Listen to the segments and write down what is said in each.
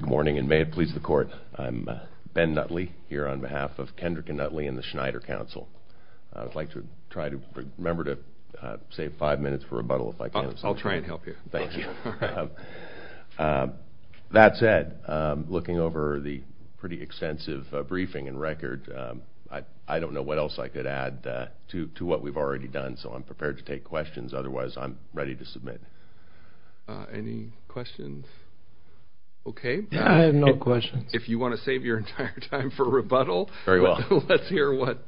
Good morning, and may it please the Court, I'm Ben Nutley here on behalf of Kendrick & Nutley and the Schneider Council. I'd like to try to remember to save five minutes for rebuttal if I can. I'll try and help you. Thank you. That said, looking over the pretty extensive briefing and record, I don't know what else I could add to what we've already done, so I'm prepared to take questions. Otherwise, I'm ready to submit. Any questions? Okay. I have no questions. If you want to save your entire time for rebuttal, let's hear what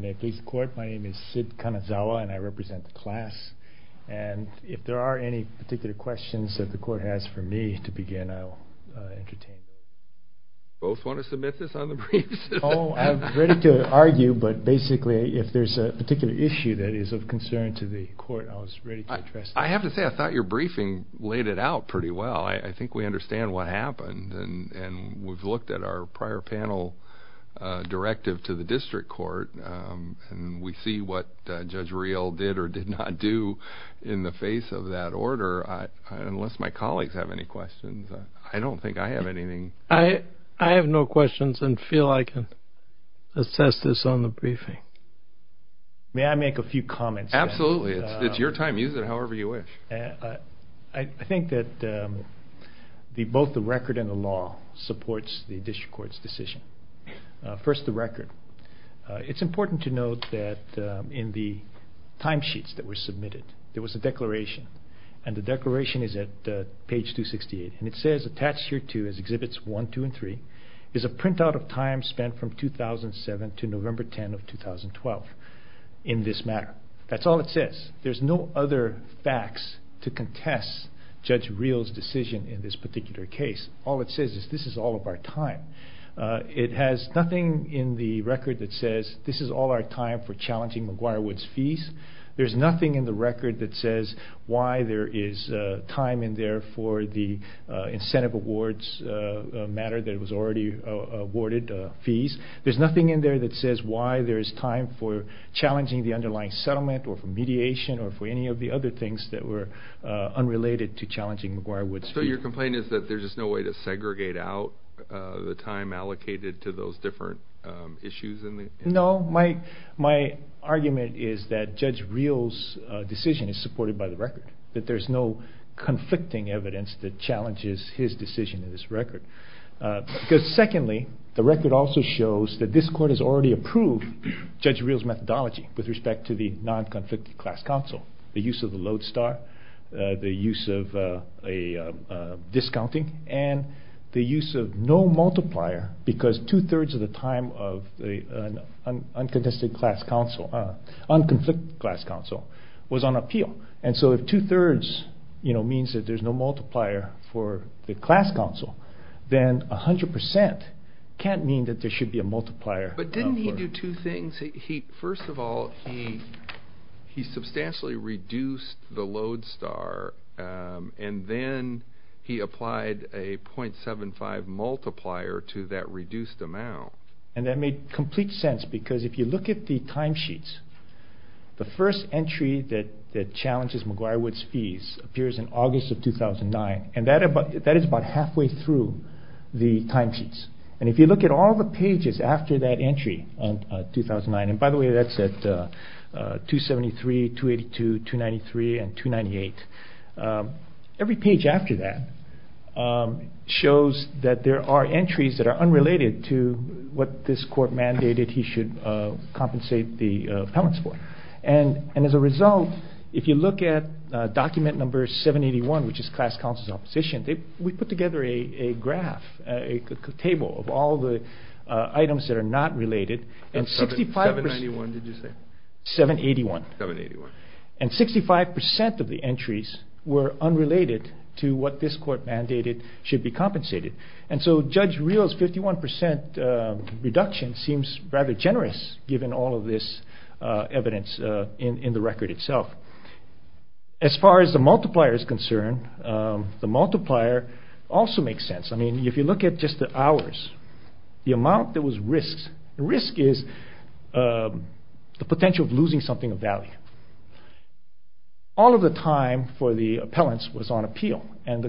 May it please the Court, my name is Sid Kanazawa, and I represent the class. And if there are any particular questions that the Court has for me to begin, I'll entertain. Do you both want to submit this on the briefs? Oh, I'm ready to argue, but basically, if there's a particular issue that is of concern to the Court, I was ready to address that. I have to say, I thought your briefing laid it out pretty well. I think we understand what happened, and we've looked at our prior panel directive to the District Court, and we see what Judge Riel did or did not do in the face of that order. Unless my colleagues have any questions, I don't think I have anything. I have no questions and feel I can assess this on the briefing. May I make a few comments? Absolutely. It's your time. Use it however you wish. I think that both the record and the law supports the District Court's decision. First, the record. It's important to note that in the timesheets that were submitted, there was a declaration, and the declaration is at page 268. And it says, attached here to Exhibits 1, 2, and 3, is a printout of time spent from 2007 to November 10 of 2012 in this matter. That's all it says. There's no other facts to contest Judge Riel's decision in this particular case. All it says is, this is all of our time. It has nothing in the record that says, this is all our time for challenging McGuire-Woods fees. There's nothing in the record that says why there is time in there for the incentive awards matter that was already awarded fees. There's nothing in there that says why there is time for challenging the underlying settlement or for mediation or for any of the other things that were unrelated to challenging McGuire-Woods fees. So your complaint is that there's just no way to segregate out the time allocated to those different issues? No. My argument is that Judge Riel's decision is supported by the record. That there's no conflicting evidence that challenges his decision in this record. Because secondly, the record also shows that this court has already approved Judge Riel's methodology with respect to the non-conflicted class counsel. The use of the lodestar, the use of a discounting, and the use of no multiplier because two-thirds of the time of the unconflicted class counsel was on appeal. And so if two-thirds means that there's no multiplier for the class counsel, then 100% can't mean that there should be a multiplier. But didn't he do two things? First of all, he substantially reduced the lodestar and then he applied a .75 multiplier to that reduced amount. And that made complete sense because if you look at the timesheets, the first entry that challenges McGuire-Wood's fees appears in August of 2009 and that is about halfway through the timesheets. And if you look at all the pages after that entry in 2009, and by the way, that's at 273, 282, 293, and 298, every page after that shows that there are entries that are unrelated to what this court mandated he should compensate the appellants for. And as a result, if you look at document number 781, which is class counsel's opposition, we put together a graph, a table of all the items that are not related. 791, did you say? 781. 781. And 65% of the entries were unrelated to what this court mandated should be compensated. And so Judge Real's 51% reduction seems rather generous given all of this evidence in the record itself. As far as the multiplier is concerned, the multiplier also makes sense. I mean, if you look at just the hours, the amount that was risked, the risk is the potential of losing something of value. All of the time for the appellants was on appeal and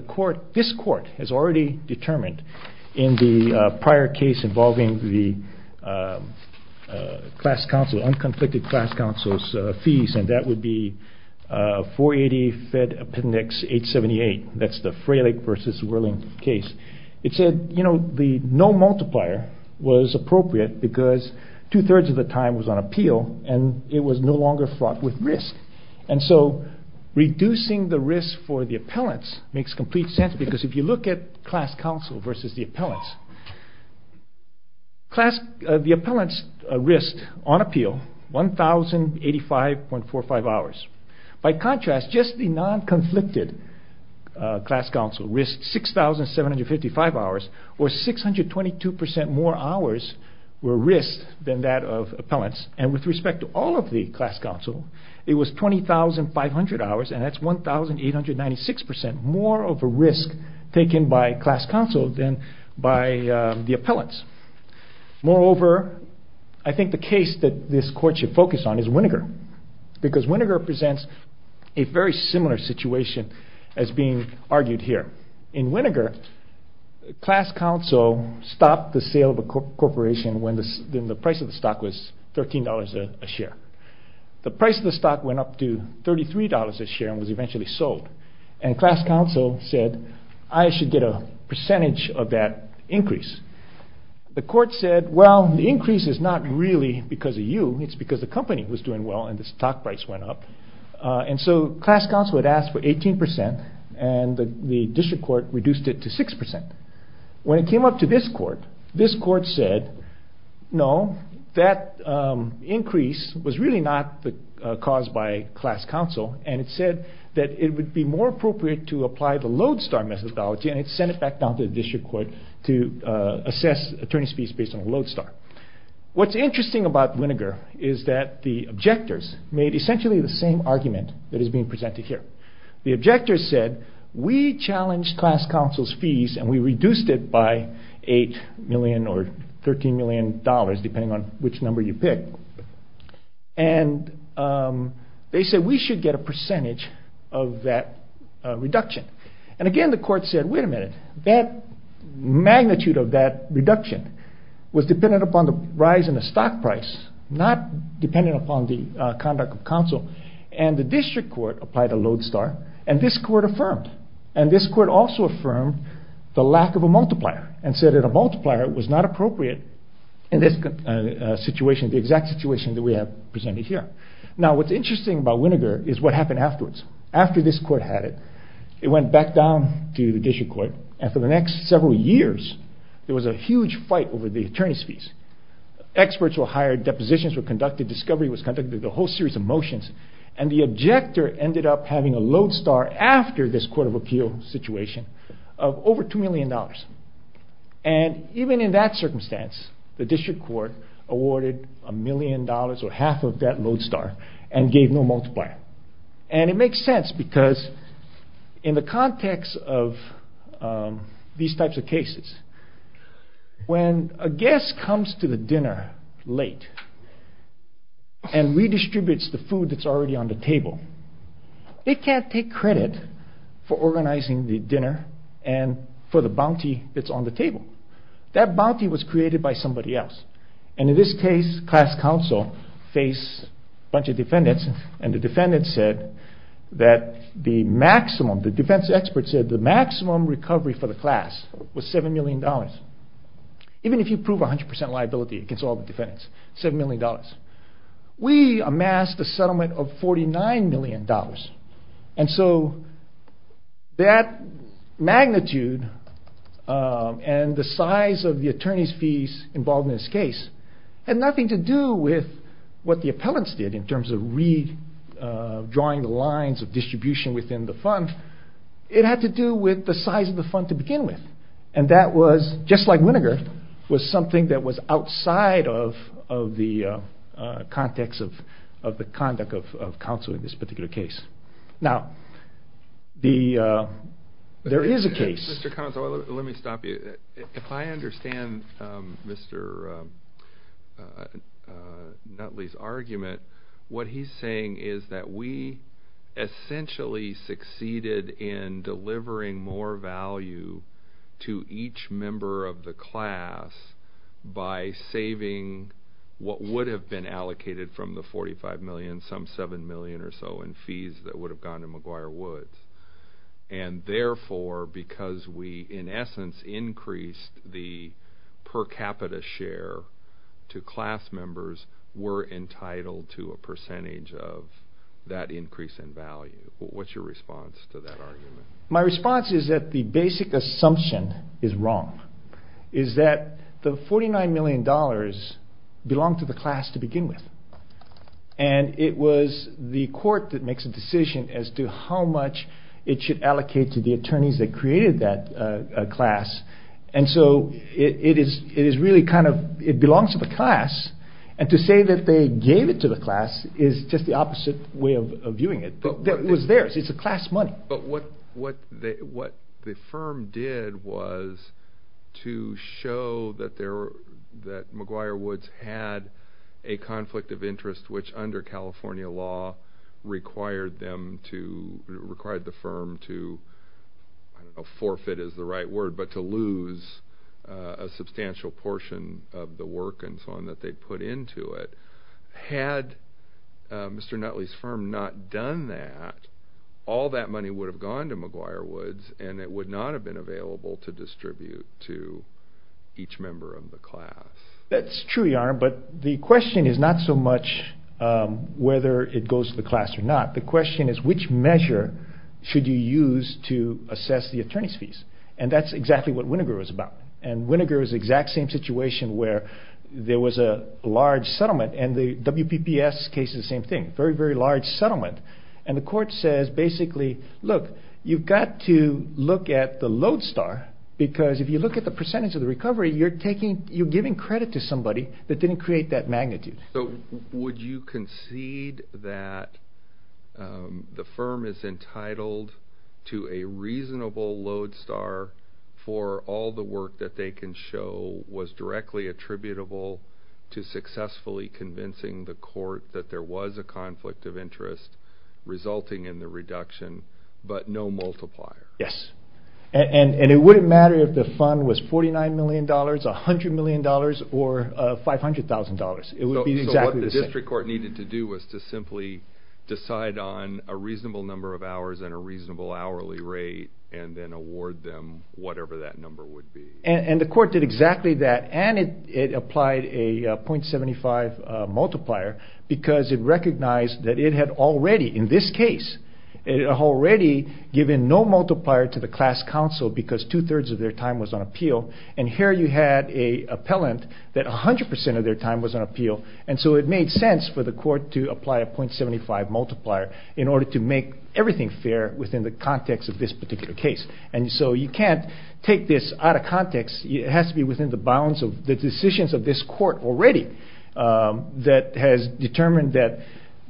this court has already determined in the prior case involving the class counsel, unconflicted class counsel's fees, and that would be 480 Fed Appendix 878, that's the Fralick v. Whirling case. It said, you know, the no multiplier was appropriate because two-thirds of the time was on appeal and so reducing the risk for the appellants makes complete sense because if you look at class counsel versus the appellants, the appellants risked on appeal 1,085.45 hours. By contrast, just the non-conflicted class counsel risked 6,755 hours where 622% more hours were risked than that of appellants and with respect to all of the class counsel, it was 20,500 hours and that's 1,896% more of a risk taken by class counsel than by the appellants. Moreover, I think the case that this court should focus on is Winograd because Winograd presents a very similar situation as being argued here. In Winograd, class counsel stopped the sale of a corporation when the price of the stock was $13 a share. The price of the stock went up to $33 a share and was eventually sold and class counsel said, I should get a percentage of that increase. The court said, well, the increase is not really because of you, it's because the company was doing well and the stock price went up and so class counsel had asked for 18% and the district court reduced it to 6%. When it came up to this court, this court said, no, that increase was really not caused by class counsel and it said that it would be more appropriate to apply the Lodestar methodology and it sent it back down to the district court to assess attorney's fees based on Lodestar. What's interesting about Winograd is that the objectors made essentially the same argument that is being presented here. The objectors said, we challenged class counsel's fees and we reduced it by $8 million or $13 million depending on which number you pick and they said we should get a percentage of that reduction. Again, the court said, wait a minute, that magnitude of that reduction was dependent upon the rise in the stock price, not dependent upon the conduct of counsel and the district court applied a Lodestar and this court affirmed and this court also affirmed the lack of a multiplier and said that a multiplier was not appropriate in this situation, the exact situation that we have presented here. Now, what's interesting about Winograd is what happened afterwards. After this court had it, it went back down to the district court and for the next several years, there was a huge fight over the attorney's fees. Experts were hired, depositions were conducted, discovery was conducted, the whole series of motions and the objector ended up having a Lodestar after this court of appeal situation of over $2 million and even in that circumstance, the district court awarded a million dollars or half of that Lodestar and gave no multiplier and it makes sense because in the context of these types of cases, when a guest comes to the dinner late and redistributes the food that's already on the table, they can't take credit for organizing the dinner and for the bounty that's on the table. That bounty was created by somebody else and in this case, class counsel faced a bunch of defendants and the defendants said that the maximum, the defense experts said the maximum recovery for the class was $7 million. Even if you prove 100% liability against all the defendants, $7 million. We amassed a settlement of $49 million and so that magnitude and the size of the attorney's fees involved in this case had nothing to do with what the appellants did in terms of redrawing the lines of distribution within the fund. It had to do with the size of the fund to begin with and that was, just like Winograd, was something that was outside of the context of the conduct of counsel in this particular case. Now, there is a case... Mr. Conzo, let me stop you. If I understand Mr. Nutley's argument, what he's saying is that we essentially succeeded in delivering more value to each member of the class by saving what would have been allocated from the $45 million, some $7 million or so, in fees that would have gone to McGuire Woods and therefore, because we, in essence, increased the per capita share to class members, we're entitled to a percentage of that increase in value. What's your response to that argument? My response is that the basic assumption is wrong, is that the $49 million belonged to the class to begin with and it was the court that makes a decision as to how much it should allocate to the attorneys that created that class and so it belongs to the class and to say that they gave it to the class is just the opposite way of viewing it. It was theirs. It's the class money. But what the firm did was to show that McGuire Woods had a conflict of interest which, under California law, required the firm to, I don't know, forfeit is the right word, but to lose a substantial portion of the work and so on that they put into it. Had Mr. Nutley's firm not done that, all that money would have gone to McGuire Woods and it would not have been available to distribute to each member of the class. That's true, Yaron, but the question is not so much whether it goes to the class or not. The question is which measure should you use to assess the attorney's fees and that's exactly what Winogur was about and Winogur is the exact same situation where there was a large settlement and the WPPS case is the same thing, very, very large settlement, and the court says basically, look, you've got to look at the load star because if you look at the percentage of the recovery, you're giving credit to somebody that didn't create that magnitude. So would you concede that the firm is entitled to a reasonable load star for all the work that they can show was directly attributable to successfully convincing the court that there was a conflict of interest resulting in the reduction, but no multiplier? Yes, and it wouldn't matter if the fund was $49 million, $100 million, or $500,000. So what the district court needed to do was to simply decide on a reasonable number of hours and a reasonable hourly rate and then award them whatever that number would be. And the court did exactly that and it applied a .75 multiplier because it recognized that it had already, in this case, it had already given no multiplier to the class counsel because two-thirds of their time was on appeal and here you had an appellant that 100% of their time was on appeal and so it made sense for the court to apply a .75 multiplier in order to make everything fair within the context of this particular case. And so you can't take this out of context, it has to be within the bounds of the decisions of this court already that has determined that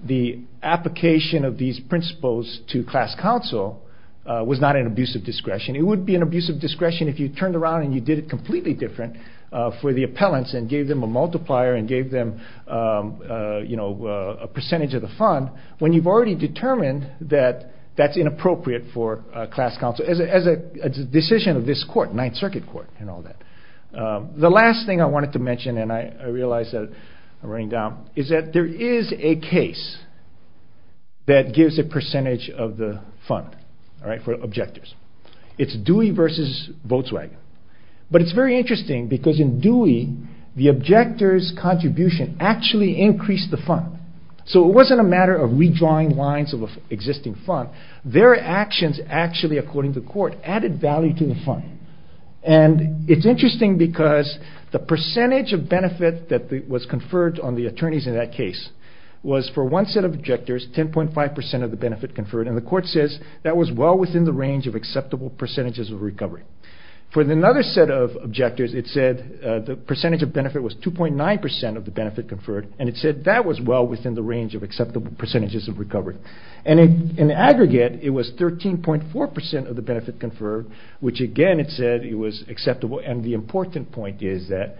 the application of these principles to class counsel was not an abuse of discretion. It would be an abuse of discretion if you turned around and you did it completely different for the appellants and gave them a multiplier and gave them a percentage of the fund when you've already determined that that's inappropriate for class counsel. So as a decision of this court, Ninth Circuit Court and all that. The last thing I wanted to mention and I realize that I'm running down is that there is a case that gives a percentage of the fund for objectors. It's Dewey versus Volkswagen. But it's very interesting because in Dewey, the objector's contribution actually increased the fund. So it wasn't a matter of redrawing lines of an existing fund. Their actions actually, according to the court, added value to the fund. And it's interesting because the percentage of benefit that was conferred on the attorneys in that case was for one set of objectors, 10.5% of the benefit conferred and the court says that was well within the range of acceptable percentages of recovery. For another set of objectors, it said the percentage of benefit was 2.9% of the benefit conferred and it said that was well within the range of acceptable percentages of recovery. And in aggregate, it was 13.4% of the benefit conferred, which again it said it was acceptable and the important point is that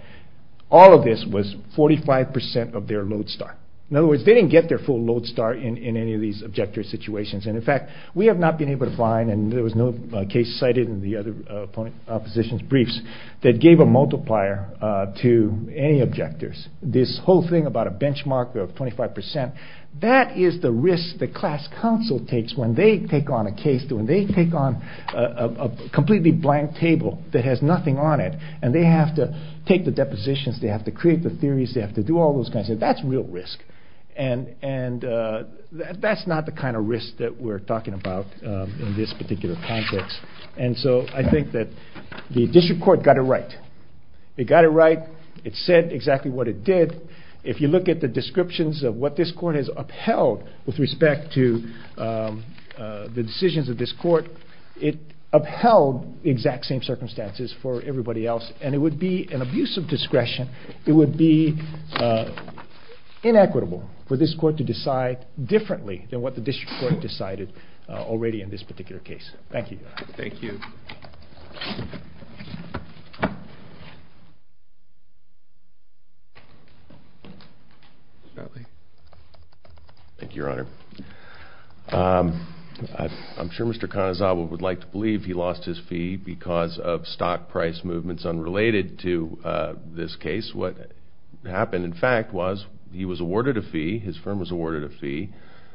all of this was 45% of their load start. In other words, they didn't get their full load start in any of these objector situations. And in fact, we have not been able to find and there was no case cited in the other opposition's briefs that gave a multiplier to any objectors. This whole thing about a benchmark of 25%, that is the risk that class counsel takes when they take on a case, when they take on a completely blank table that has nothing on it and they have to take the depositions, they have to create the theories, they have to do all those kinds of things. That's real risk and that's not the kind of risk that we're talking about in this particular context. And so I think that the district court got it right. It got it right, it said exactly what it did. If you look at the descriptions of what this court has upheld with respect to the decisions of this court, it upheld the exact same circumstances for everybody else and it would be an abuse of discretion. It would be inequitable for this court to decide differently than what the district court decided already in this particular case. Thank you. Thank you. Thank you, Your Honor. I'm sure Mr. Kanizawa would like to believe he lost his fee because of stock price movements unrelated to this case. What happened, in fact, was he was awarded a fee, his firm was awarded a fee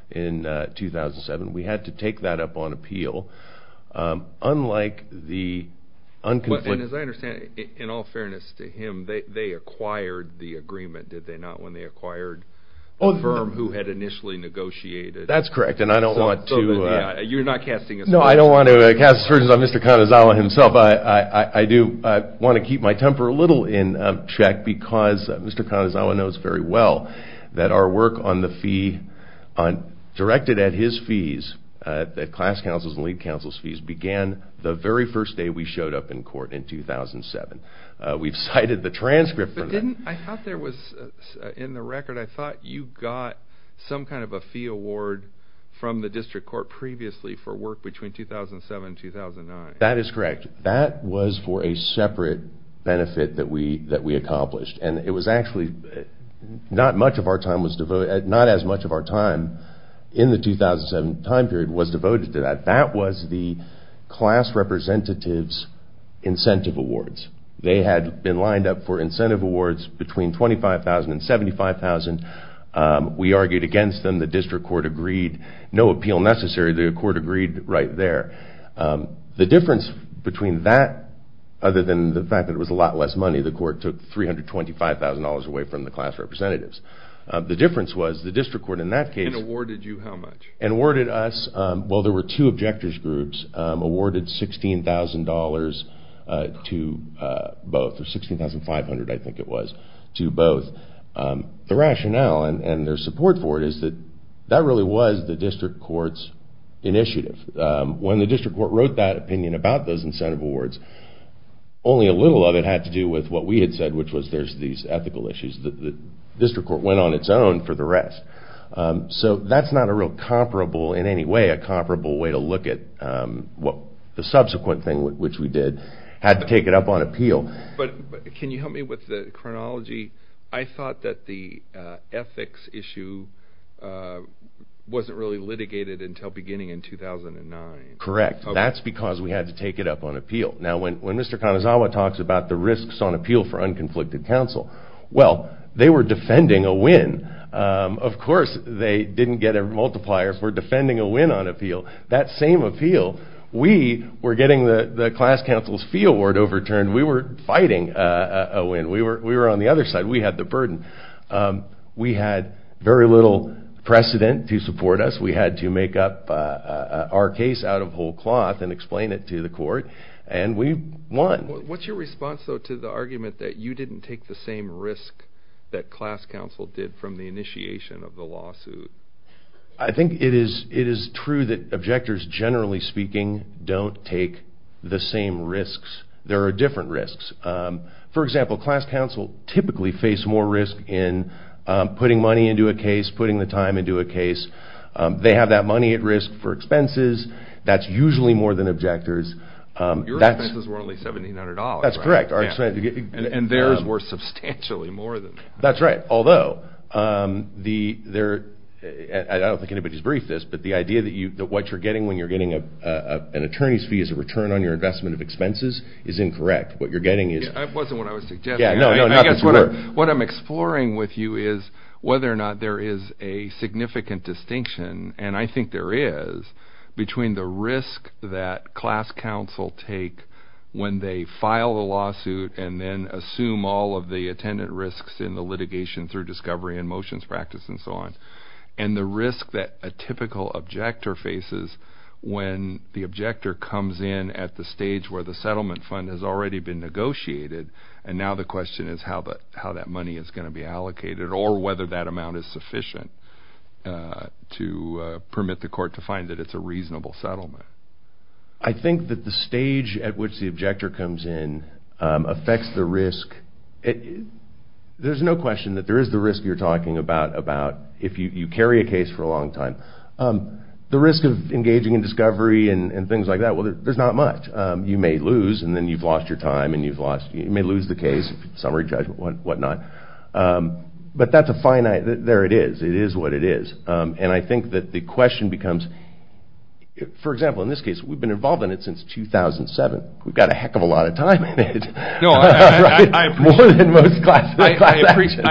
in 2007. Unlike the other cases, we had to take that up on appeal And as I understand, in all fairness to him, they acquired the agreement, did they not, when they acquired the firm who had initially negotiated? That's correct. And I don't want to... You're not casting assertions. No, I don't want to cast assertions on Mr. Kanizawa himself. I do want to keep my temper a little in check because Mr. Kanizawa knows very well that our work on the fee directed at his fees, at class counsel's and lead counsel's fees, began the very first day we showed up in court in 2007. We've cited the transcript for that. But didn't... I thought there was... In the record, I thought you got some kind of a fee award from the district court previously for work between 2007 and 2009. That is correct. That was for a separate benefit that we accomplished. And it was actually... Not much of our time was devoted... Not as much of our time in the 2007 time period was devoted to that. That was the class representative's incentive awards. They had been lined up for incentive awards between $25,000 and $75,000. We argued against them. The district court agreed. No appeal necessary. The court agreed right there. The difference between that other than the fact that it was a lot less money, the court took $325,000 away from the class representatives. The difference was the district court in that case... And awarded you how much? And awarded us... Well, there were two objectors groups awarded $16,000 to both. Or $16,500, I think it was, to both. The rationale and their support for it is that that really was the district court's initiative. When the district court wrote that opinion about those incentive awards, only a little of it had to do with what we had said, which was there's these ethical issues. The district court went on its own for the rest. So that's not a real comparable in any way, a comparable way to look at the subsequent thing which we did. Had to take it up on appeal. But can you help me with the chronology? I thought that the ethics issue wasn't really litigated until beginning in 2009. Correct. That's because we had to take it up on appeal. Now, when Mr. Kanazawa talks about the risks on appeal for unconflicted counsel, well, they were defending a win. Of course, they didn't get a multiplier for defending a win on appeal. That same appeal, we were getting the class counsel's fee award overturned. We were fighting a win. We were on the other side. We had the burden. We had very little precedent to support us. We had to make up our case out of whole cloth and explain it to the court, and we won. What's your response, though, to the argument that you didn't take the same risk that class counsel did from the initiation of the lawsuit? I think it is true that objectors, generally speaking, don't take the same risks. There are different risks. For example, class counsel typically face more risk in putting money into a case, putting the time into a case. They have that money at risk for expenses. That's usually more than objectors. Your expenses were only $1,700, right? That's correct. And theirs were substantially more than that. That's right. Although, I don't think anybody's briefed this, but the idea that what you're getting when you're getting an attorney's fee as a return on your investment of expenses is incorrect. What you're getting is... That wasn't what I was suggesting. I guess what I'm exploring with you is whether or not there is a significant distinction, and I think there is, between the risk that class counsel take when they file a lawsuit and then assume all of the attendant risks in the litigation through discovery and motions practice and so on, and the risk that a typical objector faces when the objector comes in at the stage where the settlement fund has already been negotiated, and now the question is how that money is going to be allocated or whether that amount is sufficient to permit the court to find that it's a reasonable settlement. I think that the stage at which the objector comes in affects the risk. There's no question that there is the risk you're talking about if you carry a case for a long time. The risk of engaging in discovery and things like that, well, there's not much. You may lose, and then you've lost your time, and you may lose the case, summary judgment, whatnot. But that's a finite... There it is. It is what it is. And I think that the question becomes... For example, in this case, we've been involved in it since 2007. We've got a heck of a lot of time in it. No, I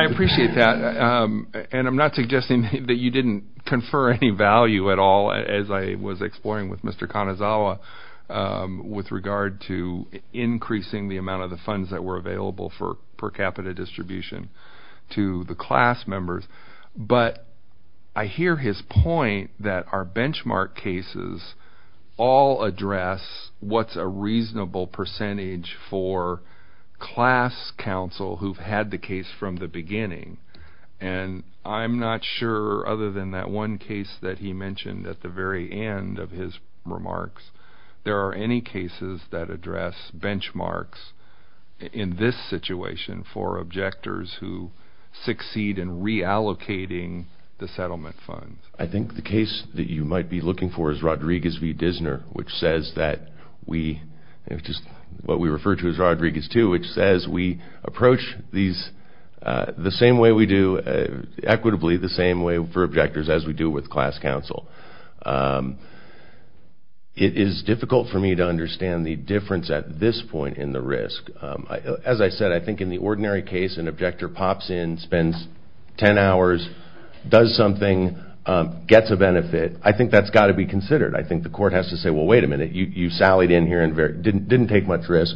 appreciate that. And I'm not suggesting that you didn't confer any value at all, as I was exploring with Mr. Kanazawa, with regard to increasing the amount of the funds that were available for per capita distribution to the class members. But I hear his point that our benchmark cases all address what's a reasonable percentage for class counsel who've had the case from the beginning. And I'm not sure, other than that one case that he mentioned at the very end of his remarks, there are any cases that address benchmarks in this situation for objectors who succeed in reallocating the settlement funds. I think the case that you might be looking for is Rodriguez v. Dissner, which says that we... which is what we refer to as Rodriguez 2, which says we approach these the same way we do, equitably the same way for objectors as we do with class counsel. It is difficult for me to understand the difference at this point in the risk. As I said, I think in the ordinary case an objector pops in, spends 10 hours, does something, gets a benefit. I think that's got to be considered. I think the court has to say, well, wait a minute, you sallied in here and didn't take much risk.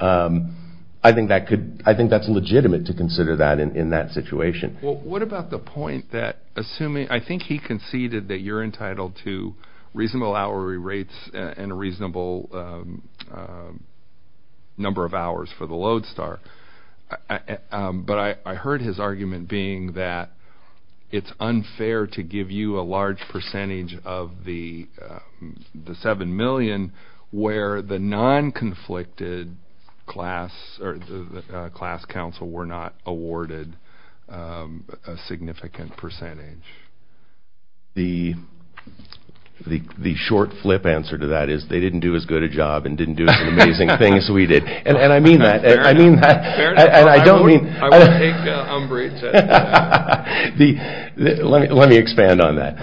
I think that's legitimate to consider that in that situation. Well, what about the point that assuming... I think he conceded that you're entitled to reasonable hourly rates and a reasonable number of hours for the Lodestar. But I heard his argument being that it's unfair to give you a large percentage of the 7 million where the non-conflicted class or the class counsel were not awarded a significant percentage. The short flip answer to that is they didn't do as good a job and didn't do as amazing a thing as we did. And I mean that. I mean that. And I don't mean... I won't take umbrage. Let me expand on that.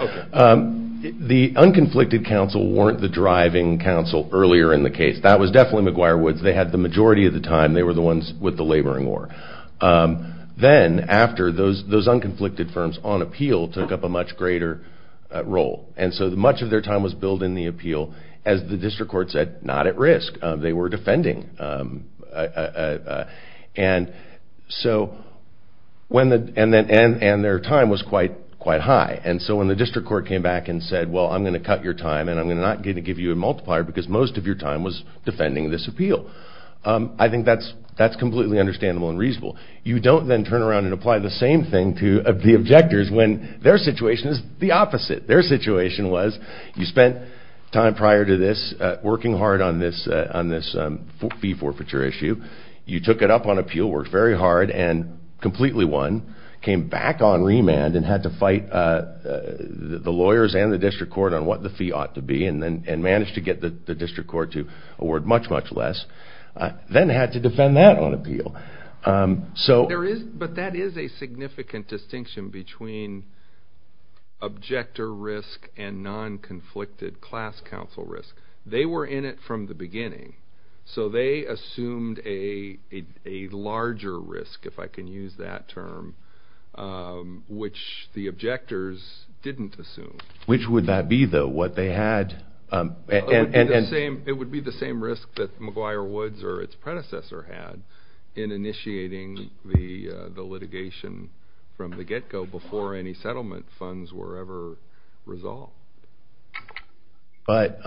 The unconflicted counsel weren't the driving counsel earlier in the case. That was definitely McGuire Woods. They had the majority of the time. They were the ones with the laboring war. Then after, those unconflicted firms on appeal took up a much greater role. And so much of their time was built in the appeal. As the district court said, not at risk. They were defending. And their time was quite high. And so when the district court came back and said, well, I'm going to cut your time and I'm not going to give you a multiplier because most of your time was defending this appeal. I think that's completely understandable and reasonable. You don't then turn around and apply the same thing to the objectors when their situation is the opposite. Their situation was you spent time prior to this working hard on this fee forfeiture issue. You took it up on appeal, worked very hard, and completely won. Came back on remand and had to fight the lawyers and the district court on what the fee ought to be and managed to get the district court to award much, much less. Then had to defend that on appeal. But that is a significant distinction between objector risk and non-conflicted class counsel risk. They were in it from the beginning. So they assumed a larger risk, if I can use that term, which the objectors didn't assume. Which would that be, though? What they had... It would be the same risk that McGuire Woods or its predecessor had in initiating the litigation from the get-go before any settlement funds were ever resolved. But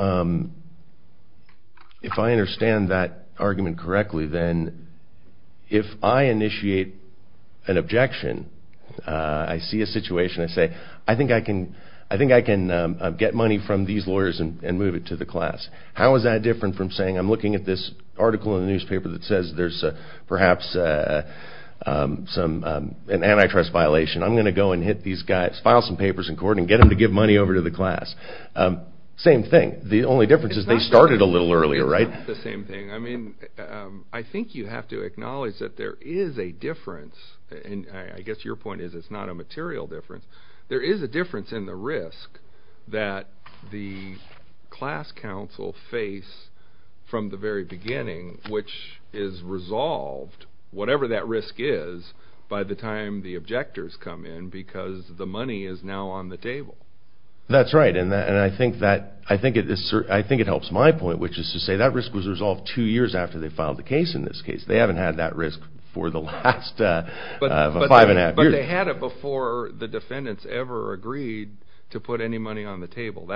if I understand that argument correctly, then if I initiate an objection, I see a situation, I say, I think I can get money from these lawyers and move it to the class. How is that different from saying, I'm looking at this article in the newspaper that says there's perhaps an antitrust violation, I'm going to go and hit these guys, file some papers in court and get them to give money over to the class. Same thing. The only difference is they started a little earlier, right? It's not the same thing. I think you have to acknowledge that there is a difference, and I guess your point is it's not a material difference. There is a difference in the risk that the class counsel face from the very beginning, which is resolved, whatever that risk is, by the time the objectors come in because the money is now on the table. That's right, and I think it helps my point, which is to say that risk was resolved two years after they filed the case in this case. They haven't had that risk for the last five and a half years. But they had it before the defendants ever agreed to put any money on the table.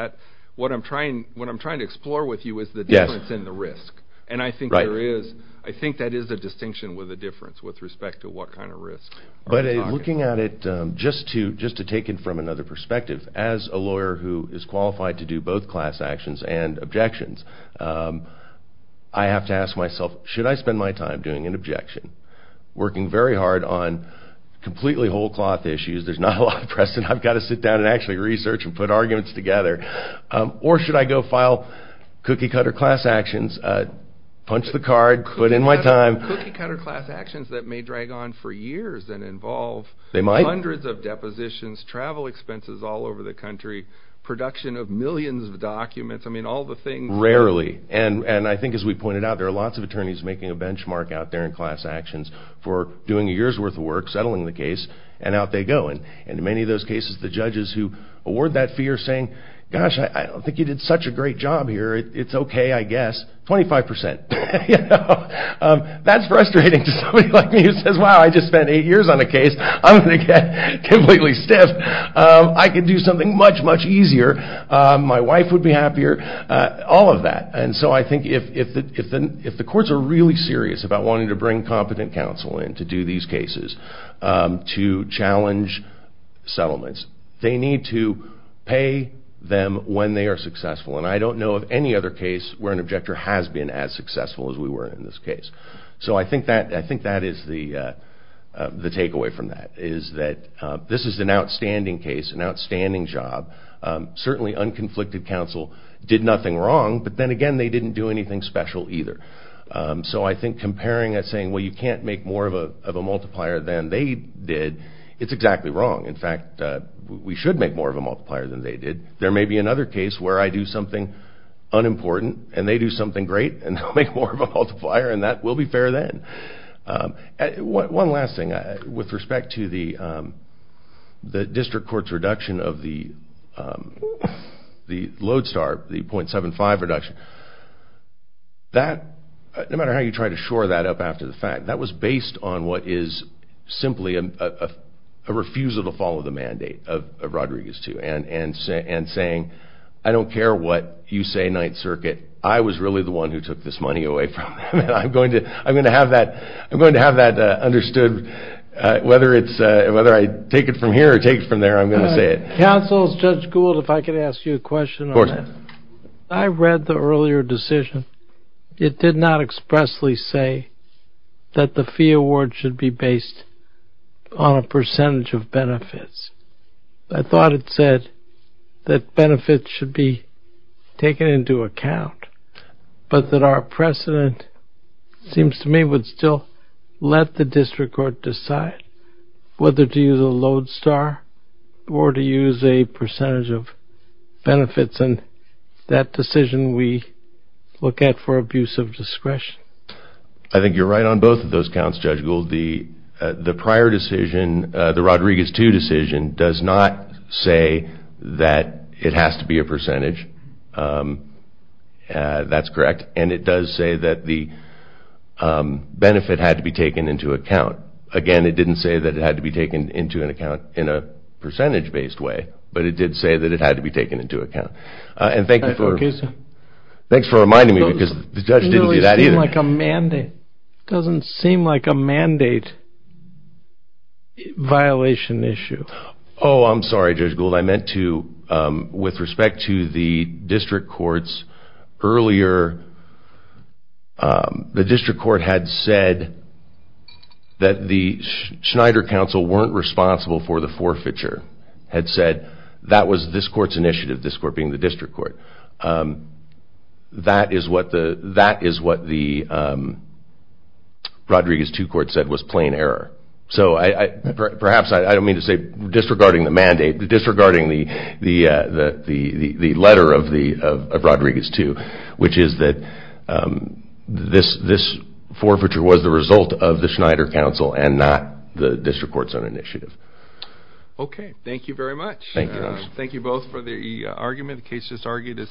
What I'm trying to explore with you is the difference in the risk, and I think that is a distinction with the difference with respect to what kind of risk. But looking at it, just to take it from another perspective, as a lawyer who is qualified to do both class actions and objections, I have to ask myself, should I spend my time doing an objection, working very hard on completely whole-cloth issues, there's not a lot of precedent, I've got to sit down and actually research and put arguments together, or should I go file cookie-cutter class actions, punch the card, put in my time. Cookie-cutter class actions that may drag on for years and involve hundreds of depositions, travel expenses all over the country, production of millions of documents, I mean all the things. Rarely, and I think as we pointed out, there are lots of attorneys making a benchmark out there in class actions for doing a year's worth of work, settling the case, and out they go. And in many of those cases, the judges who award that fee are saying, gosh, I don't think you did such a great job here, it's okay, I guess, 25%. That's frustrating to somebody like me who says, wow, I just spent eight years on a case, I'm going to get completely stiff, I could do something much, much easier, my wife would be happier, all of that. And so I think if the courts are really serious about wanting to bring competent counsel in to do these cases, to challenge settlements, they need to pay them when they are successful. And I don't know of any other case where an objector has been as successful as we were in this case. So I think that is the takeaway from that, is that this is an outstanding case, an outstanding job. Certainly, unconflicted counsel did nothing wrong, but then again, they didn't do anything special either. So I think comparing that saying, well, you can't make more of a multiplier than they did, it's exactly wrong. In fact, we should make more of a multiplier than they did. There may be another case where I do something unimportant and they do something great and I'll make more of a multiplier and that will be fair then. One last thing, with respect to the district court's reduction of the Lodestar, the .75 reduction, that, no matter how you try to shore that up after the fact, that was based on what is simply a refusal to follow the mandate of Rodriguez too, and saying, I don't care what you say, Ninth Circuit, I was really the one who took this money away from them and I'm going to have that understood whether I take it from here or take it from there, I'm going to say it. Counsel, Judge Gould, if I could ask you a question. Of course. I read the earlier decision. It did not expressly say that the fee award should be based on a percentage of benefits. I thought it said that benefits should be taken into account, but that our precedent seems to me would still let the district court decide whether to use a Lodestar or to use a percentage of benefits and that decision we look at for abuse of discretion. I think you're right on both of those counts, Judge Gould. The prior decision, the Rodriguez too decision, does not say that it has to be a percentage. That's correct. And it does say that the benefit had to be taken into account. Again, it didn't say that it had to be taken into account in a percentage based way, but it did say that it had to be taken into account. And thank you for reminding me because the judge didn't do that either. It doesn't seem like a mandate violation issue. Oh, I'm sorry, Judge Gould. I meant to, with respect to the district courts, earlier the district court had said that the Schneider Council weren't responsible for the forfeiture. Had said that was this court's initiative, this court being the district court. That is what the Rodriguez 2 court said was plain error. So perhaps I don't mean to say disregarding the mandate, disregarding the letter of Rodriguez 2, which is that this forfeiture was the result of the Schneider Council and not the district court's own initiative. Okay, thank you very much. Thank you. Thank you both for the argument.